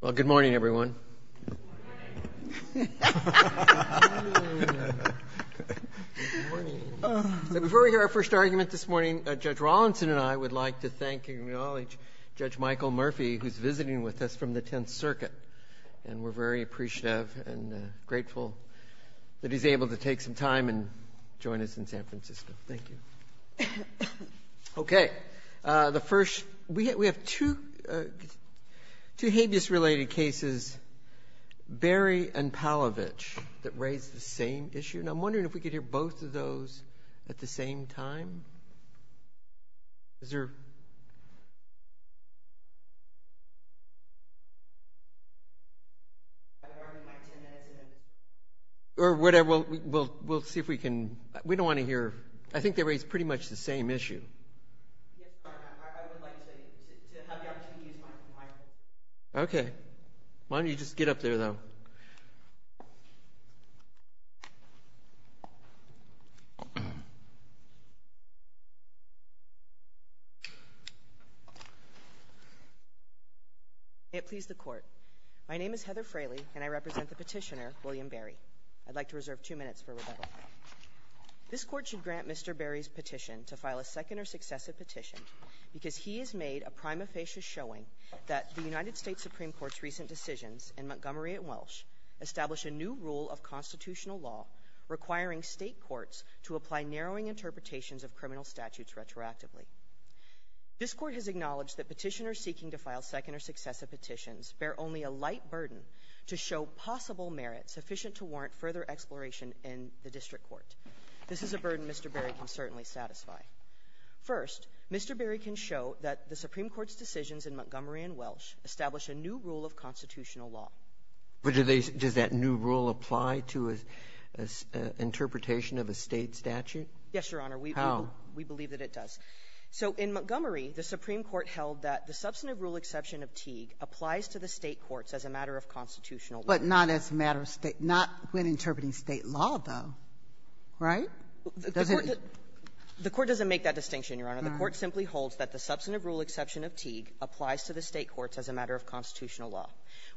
Well, good morning, everyone. Good morning. Before we hear our first argument this morning, Judge Rawlinson and I would like to thank and acknowledge Judge Michael Murphy, who's visiting with us from the Tenth Circuit, and we're very appreciative and grateful that he's able to take some time and join us in San Francisco. Thank you. Okay. The first – we have two habeas-related cases, Berry and Palovich, that raise the same issue. And I'm wondering if we could hear both of those at the same time. Is there – Or whatever, we'll see if we can – we don't want to hear – I think they raise pretty much the same issue. Yes, Your Honor, I would like to have the opportunity to use my microphone. Okay. Why don't you just get up there, though? May it please the Court, my name is Heather Fraley, and I represent the petitioner, William Berry. I'd like to reserve two minutes for rebuttal. This Court should grant Mr. Berry's petition to file a second or successive petition because he has made a prima facie showing that the United States Supreme Court's recent decisions in Montgomery and Welsh establish a new rule of constitutional law requiring state courts to apply narrowing interpretations of criminal statutes retroactively. This Court has acknowledged that petitioners seeking to file second or successive petitions bear only a light burden to show possible merits sufficient to warrant further exploration in the district court. This is a burden Mr. Berry can certainly satisfy. First, Mr. Berry can show that the Supreme Court's decisions in Montgomery and Welsh establish a new rule of constitutional law. But do they – does that new rule apply to an interpretation of a state statute? Yes, Your Honor. How? We believe that it does. So in Montgomery, the Supreme Court held that the substantive rule exception of Teague applies to the state courts as a matter of constitutional law. But not as a matter of state – not when interpreting state law, though, right? Does it – The Court doesn't make that distinction, Your Honor. The Court simply holds that the substantive rule exception of Teague applies to the state courts as a matter of constitutional law.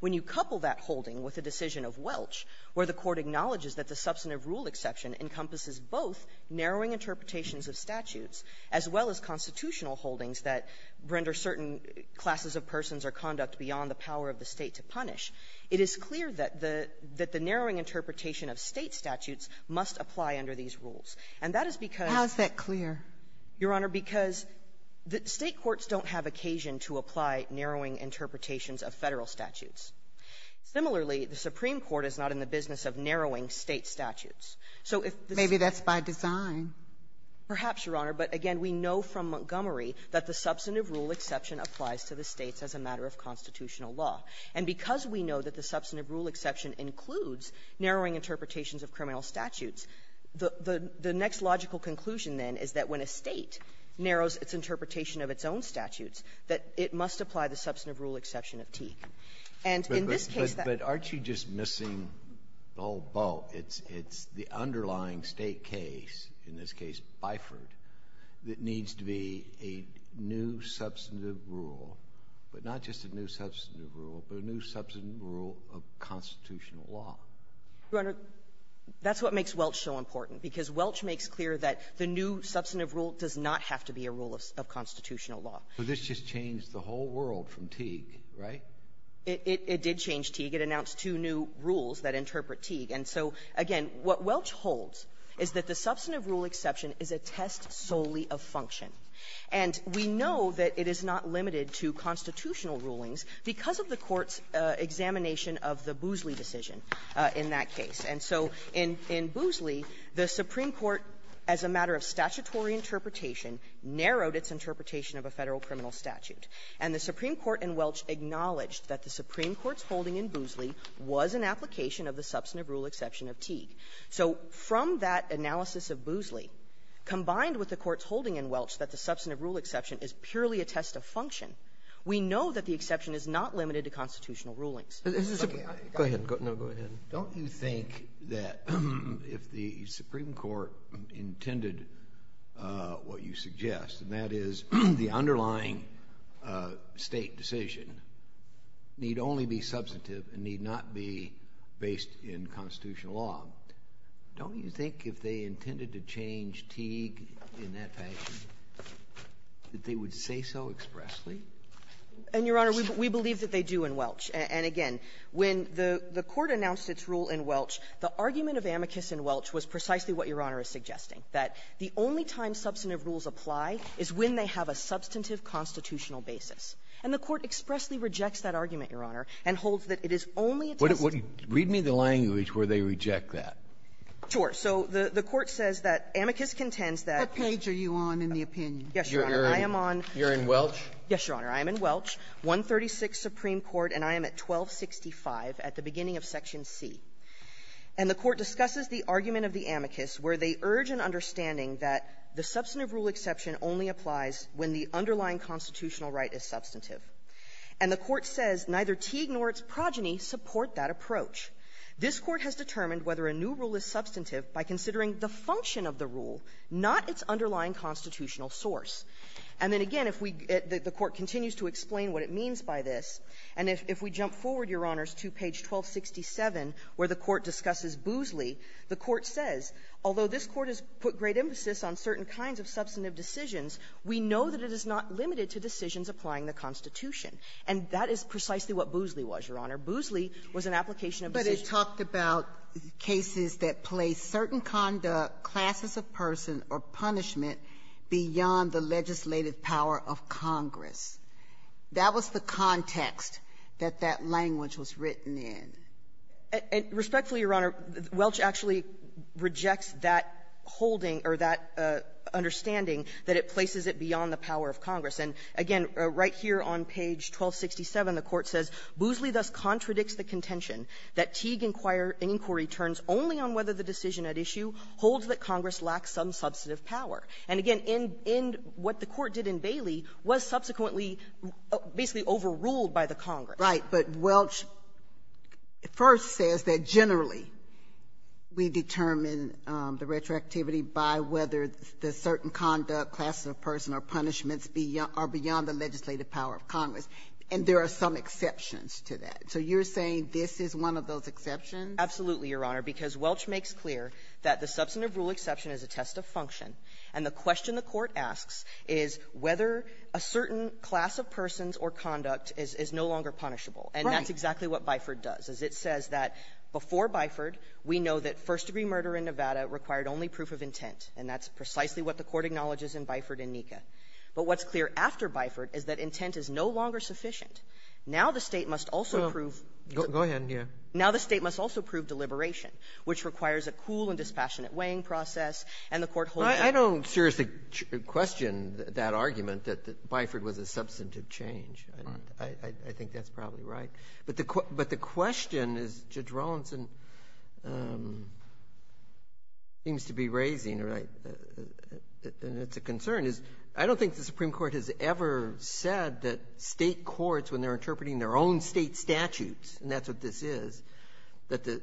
When you couple that holding with a decision of Welsh, where the Court acknowledges that the substantive rule exception encompasses both narrowing interpretations of statutes as well as constitutional holdings that render certain classes of persons or conduct beyond the power of the State to punish, it is clear that the – that the narrowing interpretation of State statutes must apply under these rules. And that is because – How is that clear? Your Honor, because the State courts don't have occasion to apply narrowing interpretations of Federal statutes. Similarly, the Supreme Court is not in the business of narrowing State statutes. So if the – Maybe that's by design. Perhaps, Your Honor. But, again, we know from Montgomery that the substantive rule exception applies to the States as a matter of constitutional law. And because we know that the substantive rule exception includes narrowing interpretations of criminal statutes, the – the next logical conclusion, then, is that when a State narrows its interpretation of its own statutes, that it must apply the substantive rule exception of Teague. And in this case, that – in this case, Biford, that needs to be a new substantive rule, but not just a new substantive rule, but a new substantive rule of constitutional law. Your Honor, that's what makes Welch so important, because Welch makes clear that the new substantive rule does not have to be a rule of constitutional law. But this just changed the whole world from Teague, right? It – it did change Teague. It announced two new rules that interpret Teague. And so, again, what Welch holds is that the substantive rule exception is a test solely of function. And we know that it is not limited to constitutional rulings because of the Court's examination of the Boosley decision in that case. And so in – in Boosley, the Supreme Court, as a matter of statutory interpretation, narrowed its interpretation of a Federal criminal statute. And the Supreme Court in Welch acknowledged that the Supreme Court's holding in Boosley was an application of the substantive rule exception of Teague. So from that analysis of Boosley, combined with the Court's holding in Welch that the substantive rule exception is purely a test of function, we know that the exception is not limited to constitutional rulings. Roberts. Go ahead. No, go ahead. Don't you think that if the Supreme Court intended what you suggest, and that is the substantive and need not be based in constitutional law, don't you think if they intended to change Teague in that fashion, that they would say so expressly? And, Your Honor, we believe that they do in Welch. And again, when the Court announced its rule in Welch, the argument of amicus in Welch was precisely what Your Honor is suggesting, that the only time substantive rules apply is when they have a substantive constitutional basis. And the Court expressly rejects that argument, Your Honor, and holds that it is only a test of the ---- Read me the language where they reject that. Sure. So the Court says that amicus contends that ---- What page are you on in the opinion? Yes, Your Honor. I am on ---- You're in Welch? Yes, Your Honor. I am in Welch, 136 Supreme Court, and I am at 1265 at the beginning of Section C. And the Court discusses the argument of the amicus, where they urge an understanding that the substantive rule exception only applies when the underlying constitutional right is substantive. And the Court says neither Teague nor its progeny support that approach. This Court has determined whether a new rule is substantive by considering the function of the rule, not its underlying constitutional source. And then again, if we ---- the Court continues to explain what it means by this, and if we jump forward, Your Honors, to page 1267, where the Court discusses it, the Court says, although this Court has put great emphasis on certain kinds of substantive decisions, we know that it is not limited to decisions applying the Constitution. And that is precisely what Boozley was, Your Honor. Boozley was an application of ---- But it talked about cases that place certain conduct, classes of person, or punishment beyond the legislative power of Congress. That was the context that that language was written in. Respectfully, Your Honor, Welch actually rejects that holding or that understanding that it places it beyond the power of Congress. And again, right here on page 1267, the Court says, Boozley thus contradicts the contention that Teague inquiry turns only on whether the decision at issue holds that Congress lacks some substantive power. And again, in what the Court did in Bailey was subsequently basically overruled by the Congress. Right. But Welch first says that, generally, we determine the retroactivity by whether the certain conduct, classes of person, or punishments are beyond the legislative power of Congress. And there are some exceptions to that. So you're saying this is one of those exceptions? Absolutely, Your Honor. Because Welch makes clear that the substantive rule exception is a test of function. And the question the Court asks is whether a certain class of persons or conduct is no longer punishable. Right. And that's exactly what Biford does, is it says that before Biford, we know that first-degree murder in Nevada required only proof of intent. And that's precisely what the Court acknowledges in Biford and Nika. But what's clear after Biford is that intent is no longer sufficient. Now the State must also prove your ---- Well, go ahead, yeah. Now the State must also prove deliberation, which requires a cool and dispassionate weighing process. And the Court holds that ---- I don't seriously question that argument that Biford was a substantive change. I think that's probably right. But the question is, Judge Rawlinson seems to be raising, and it's a concern, is I don't think the Supreme Court has ever said that State courts, when they're interpreting their own State statutes, and that's what this is, that the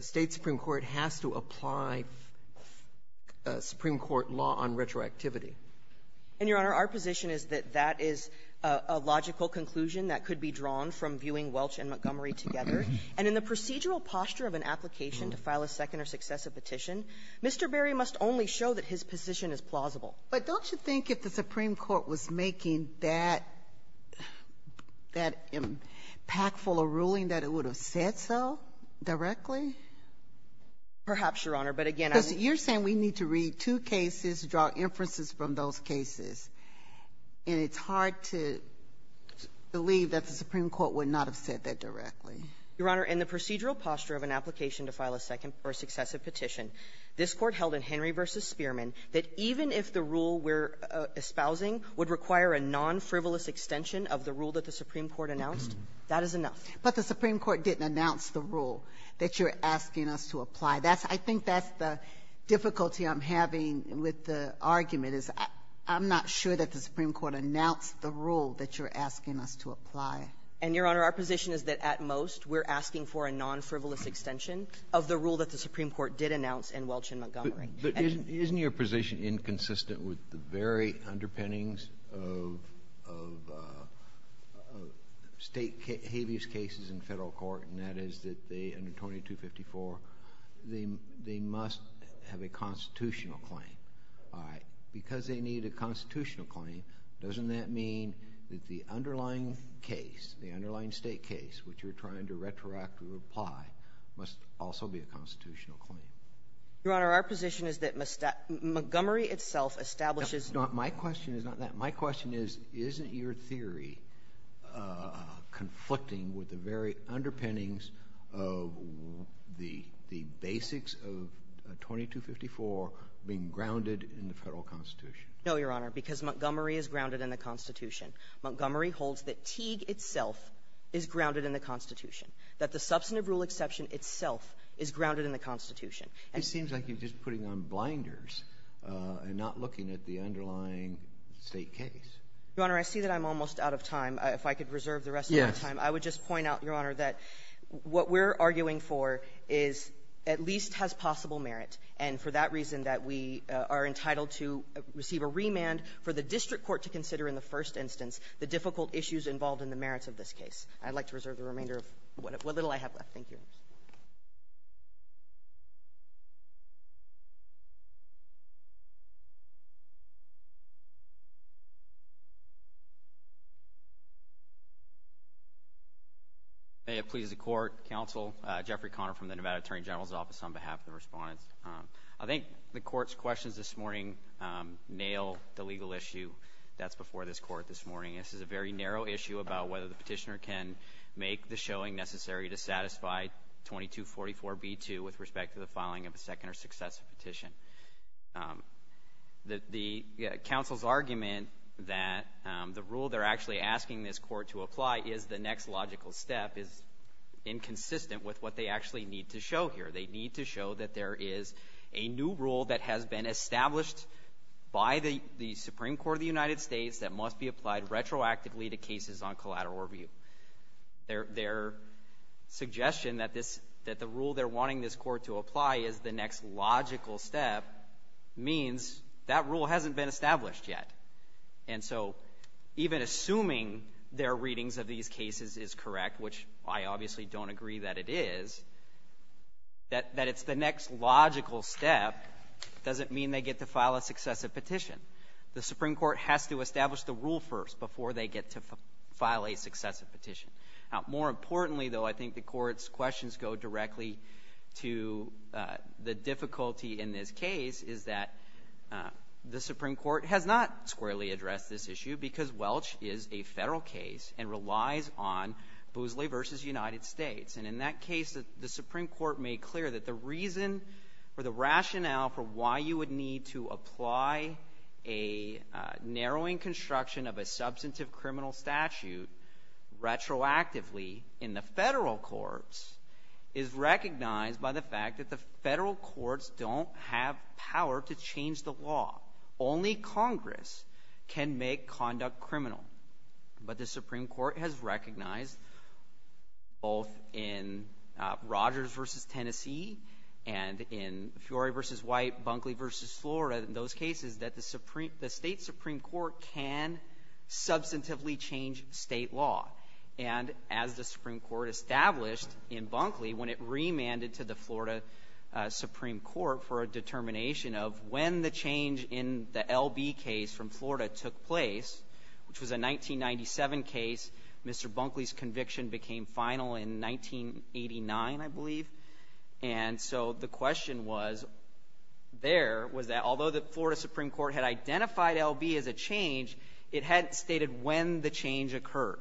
State supreme court has to apply a supreme court law on retroactivity. And, Your Honor, our position is that that is a logical conclusion that could be drawn from viewing Welch and Montgomery together. And in the procedural posture of an application to file a second or successive petition, Mr. Berry must only show that his position is plausible. But don't you think if the Supreme Court was making that ---- that impactful a ruling that it would have said so directly? Perhaps, Your Honor. But again, I'm ---- Sotomayor, you're saying we need to read two cases, draw inferences from those cases. And it's hard to believe that the Supreme Court would not have said that directly. Your Honor, in the procedural posture of an application to file a second or successive petition, this Court held in Henry v. Spearman that even if the rule we're espousing would require a non-frivolous extension of the rule that the Supreme Court announced, that is enough. But the Supreme Court didn't announce the rule that you're asking us to apply. That's ---- I think that's the difficulty I'm having with the argument, is I'm not sure that the Supreme Court announced the rule that you're asking us to apply. And, Your Honor, our position is that, at most, we're asking for a non-frivolous extension of the rule that the Supreme Court did announce in Welch and Montgomery. But isn't your position inconsistent with the very underpinnings of State habeas cases in Federal court, and that is that they, under 2254, they must have a constitutional claim. All right. Because they need a constitutional claim, doesn't that mean that the underlying case, the underlying State case which you're trying to retroactively apply must also be a constitutional claim? Your Honor, our position is that Montgomery itself establishes ---- No. My question is not that. My question is, is it inconsistent with the very underpinnings of the basics of 2254 being grounded in the Federal Constitution? No, Your Honor, because Montgomery is grounded in the Constitution. Montgomery holds that Teague itself is grounded in the Constitution, that the substantive rule exception itself is grounded in the Constitution. It seems like you're just putting on blinders and not looking at the underlying State case. Your Honor, I see that I'm almost out of time. If I could reserve the rest of my time. Yes. I would just point out, Your Honor, that what we're arguing for is at least has possible merit, and for that reason that we are entitled to receive a remand for the district court to consider in the first instance the difficult issues involved in the merits of this case. I'd like to reserve the remainder of what little I have left. Thank you. May it please the Court, Counsel, Jeffrey Conner from the Nevada Attorney General's Office on behalf of the respondents. I think the Court's questions this morning nail the legal issue that's before this Court this morning. This is a very narrow issue about whether the petitioner can make the showing necessary to satisfy 2244b-2 with respect to the filing of a second or successive petition. The Counsel's argument that the rule they're actually asking this Court to apply is the next logical step is inconsistent with what they actually need to show here. They need to show that there is a new rule that has been established by the Supreme Court of the United States that must be applied retroactively to cases on collateral review. Their suggestion that the rule they're wanting this Court to apply is the next logical step means that rule hasn't been established yet. And so even assuming their readings of these cases is correct, which I obviously don't agree that it is, that it's the next logical step doesn't mean they get to file a successive petition. The Supreme Court has to establish the rule first before they get to file a successive petition. Now, more importantly, though, I think the Court's questions go directly to the difficulty in this case is that the Supreme Court has not squarely addressed this issue because Welch is a Federal case and relies on Boosley v. United States. And in that case, the Supreme Court made clear that the reason or the rationale for why you would need to apply a narrowing construction of a substantive criminal statute retroactively in the Federal courts is recognized by the fact that the Federal courts don't have power to change the law. Only Congress can make conduct criminal. But the Supreme Court has recognized both in Rogers v. Tennessee and in Fiore v. White, Bunkley v. Florida, in those cases, that the State Supreme Court can substantively change State law. And as the Supreme Court established in Bunkley, when it remanded to the Florida Supreme Court for a determination of when the change in the L.B. case from Florida took place, which was a 1997 case, Mr. Bunkley's conviction became final in 1989, I believe. And so the question was there, was that although the Florida Supreme Court had identified L.B. as a change, it hadn't stated when the change occurred.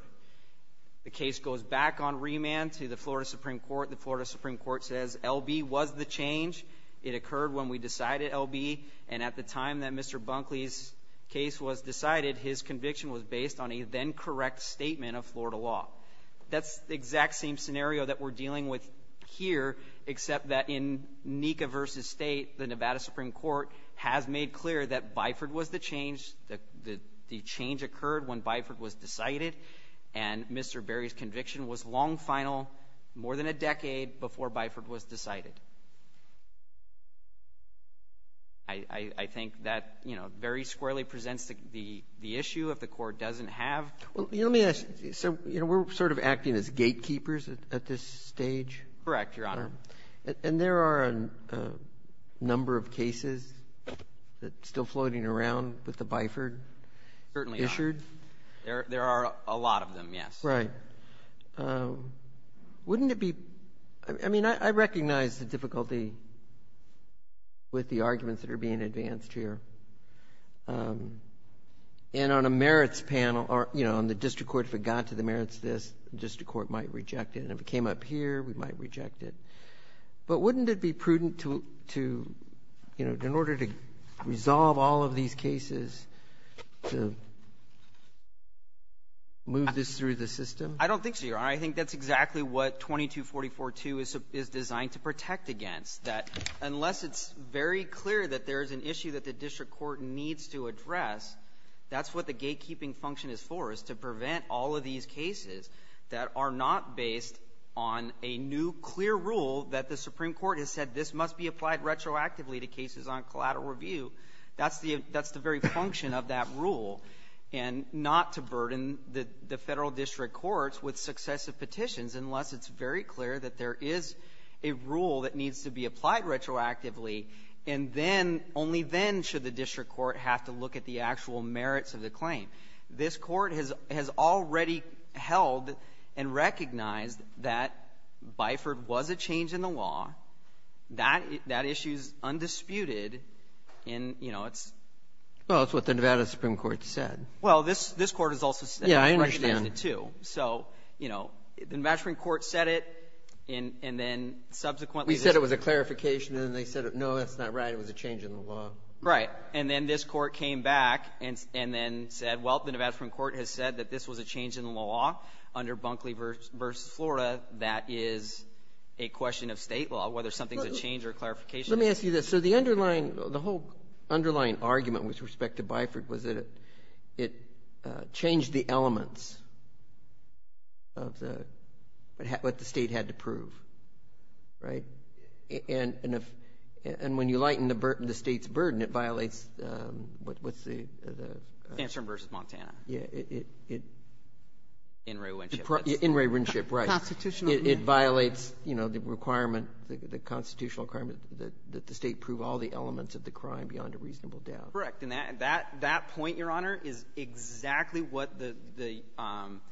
The case goes back on remand to the Florida Supreme Court. The Florida Supreme Court says L.B. was the change. It occurred when we decided L.B. And at the time that Mr. Bunkley's case was decided, his conviction was based on a then correct statement of Florida law. That's the exact same scenario that we're dealing with here, except that in Nika v. State, the Nevada Supreme Court has made clear that Biford was the change, the change occurred when Biford was decided. And Mr. Berry's conviction was long final, more than a decade before Biford was decided. I think that, you know, very squarely presents the issue of the Court doesn't have. Roberts. Well, let me ask you, sir. You know, we're sort of acting as gatekeepers at this stage. Correct, Your Honor. And there are a number of cases that are still floating around with the Biford? Certainly not. Issued? There are a lot of them, yes. Right. Wouldn't it be — I mean, I recognize the difficulty with the arguments that are being advanced here. And on a merits panel, you know, on the district court, if it got to the merits of this, the district court might reject it. And if it came up here, we might reject it. But wouldn't it be prudent to, you know, in order to resolve all of these cases, to move this through the system? I don't think so, Your Honor. I think that's exactly what 2244-2 is designed to protect against. That unless it's very clear that there is an issue that the district court needs to address, that's what the gatekeeping function is for, is to prevent all of these cases that are not based on a new, clear rule that the Supreme Court has said this must be applied retroactively to cases on collateral review. That's the — that's the very function of that rule, and not to burden the Federal District Courts with successive petitions unless it's very clear that there is a rule that needs to be applied retroactively, and then — only then should the district court have to look at the actual merits of the claim. This Court has already held and recognized that Biford was a change in the law. That — that issue is undisputed in — you know, it's — Well, it's what the Nevada Supreme Court said. Well, this — this Court has also said — Yeah, I understand. It's recognized it, too. So, you know, the Nevada Supreme Court said it, and then subsequently — We said it was a clarification, and then they said, no, that's not right. It was a change in the law. Right. And then this Court came back and — and then said, well, the Nevada Supreme Court has said that this was a change in the law under Bunkley v. Florida that is a question of state law, whether something's a change or a clarification. Let me ask you this. So the underlying — the whole underlying argument with respect to Biford was that it changed the elements of the — what the state had to prove, right? And if — and when you lighten the burden — the state's burden, it violates — what's the — Sandstorm v. Montana. Yeah, it — In re Winship, right. Constitutional — It violates, you know, the requirement — the constitutional requirement that the state prove all the elements of the crime beyond a reasonable doubt. Correct. And that — that — that point, Your Honor, is exactly what the —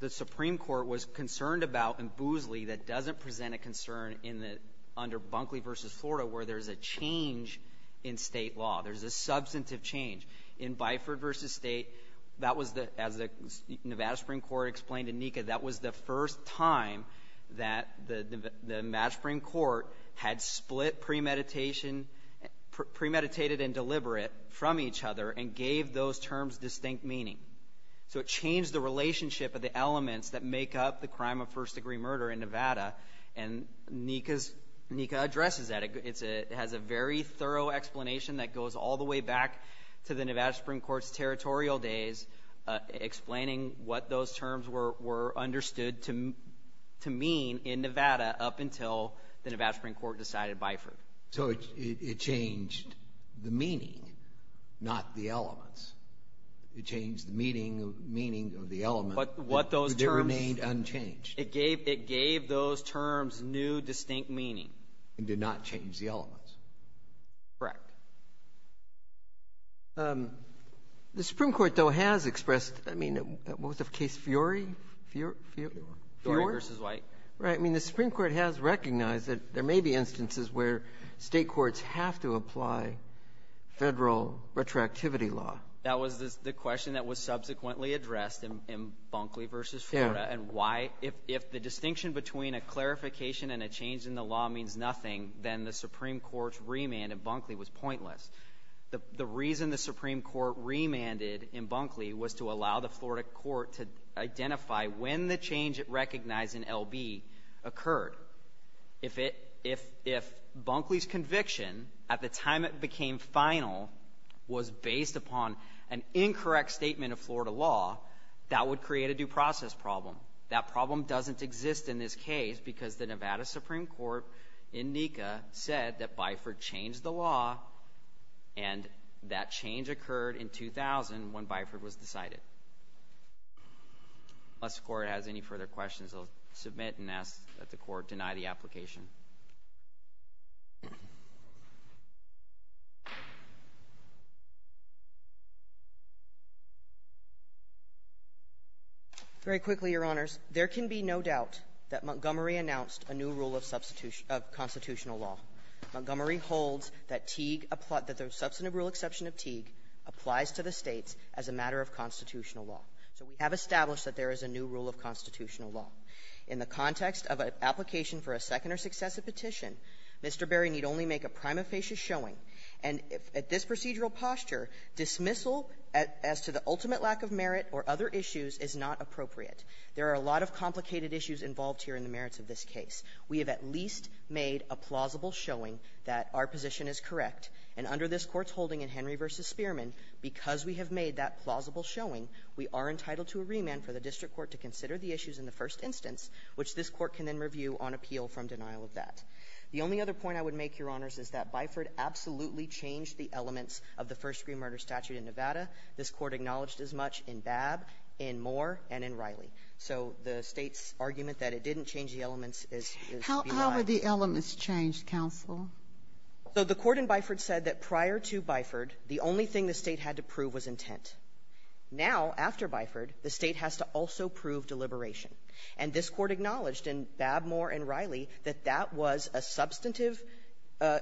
the Supreme Court was concerned about in Boozley that doesn't present a concern in the — under Bunkley v. Florida, where there's a change in state law. There's a substantive change. In Biford v. State, that was the — as the Nevada Supreme Court explained to Nika, that was the first time that the Nevada Supreme Court had split premeditation — premeditated and deliberate from each other and gave those terms distinct meaning. So it changed the relationship of the elements that make up the crime of first-degree murder in Nevada, and Nika's — Nika addresses that. It's a — it has a very thorough explanation that goes all the way back to the Nevada were understood to — to mean in Nevada up until the Nevada Supreme Court decided Biford. So it — it changed the meaning, not the elements. It changed the meaning — meaning of the element. But what those terms — They remained unchanged. It gave — it gave those terms new, distinct meaning. It did not change the elements. Correct. The Supreme Court, though, has expressed — I mean, what was the case, Fiori? Fiori v. White. Right. I mean, the Supreme Court has recognized that there may be instances where State courts have to apply Federal retroactivity law. That was the question that was subsequently addressed in — in Bunkley v. Florida. And why — if — if the distinction between a clarification and a change in the law means nothing, then the Supreme Court's remand in Bunkley was pointless. The — the reason the Supreme Court remanded in Bunkley was to allow the Florida court to identify when the change it recognized in L.B. occurred. If it — if — if Bunkley's conviction at the time it became final was based upon an incorrect statement of Florida law, that would create a due process problem. That problem doesn't exist in this case because the Nevada Supreme Court in NECA said that Biford changed the law, and that change occurred in 2000 when Biford was decided. Unless the Court has any further questions, I'll submit and ask that the Court deny the application. Very quickly, Your Honors. There can be no doubt that Montgomery announced a new rule of substitution — of constitutional law. Montgomery holds that Teague — that the substantive rule exception of Teague applies to the States as a matter of constitutional law. So we have established that there is a new rule of constitutional law. In the context of an application for a second or successive petition, Mr. Berry need only make a prima facie showing. And at this procedural posture, dismissal as to the ultimate lack of merit or other issues is not appropriate. There are a lot of complicated issues involved here in the merits of this case. We have at least made a plausible showing that our position is correct. And under this Court's holding in Henry v. Spearman, because we have made that plausible showing, we are entitled to a remand for the district court to consider the issues in the first instance, which this Court can then review on appeal from denial of that. The only other point I would make, Your Honors, is that Biford absolutely changed the elements of the first-degree murder statute in Nevada. This Court acknowledged as much in Babb, in Moore, and in Riley. So the State's argument that it didn't change the elements is — Sotomayor, how would the elements change, counsel? So the Court in Biford said that prior to Biford, the only thing the State had to prove was intent. Now, after Biford, the State has to also prove deliberation. And this Court acknowledged in Babb, Moore, and Riley that that was a substantive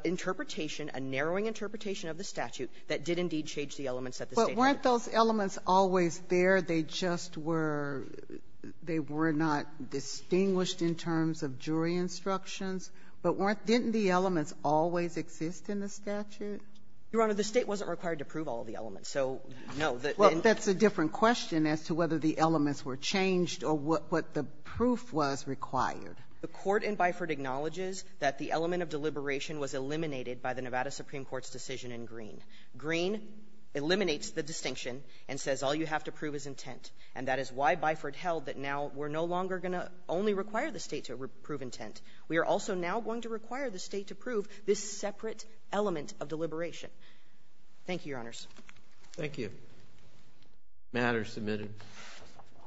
interpretation, a narrowing interpretation of the statute that did indeed change the elements that the State had. But weren't those elements always there? They just were — they were not distinguished in terms of jury instructions. But weren't — didn't the elements always exist in the statute? Your Honor, the State wasn't required to prove all the elements. So, no, the — Well, that's a different question as to whether the elements were changed or what the proof was required. The Court in Biford acknowledges that the element of deliberation was eliminated by the Nevada Supreme Court's decision in Green. Green eliminates the distinction and says all you have to prove is intent. And that is why Biford held that now we're no longer going to only require the State to prove intent. We are also now going to require the State to prove this separate element of deliberation. Thank you, Your Honors. Thank you. The matter is submitted.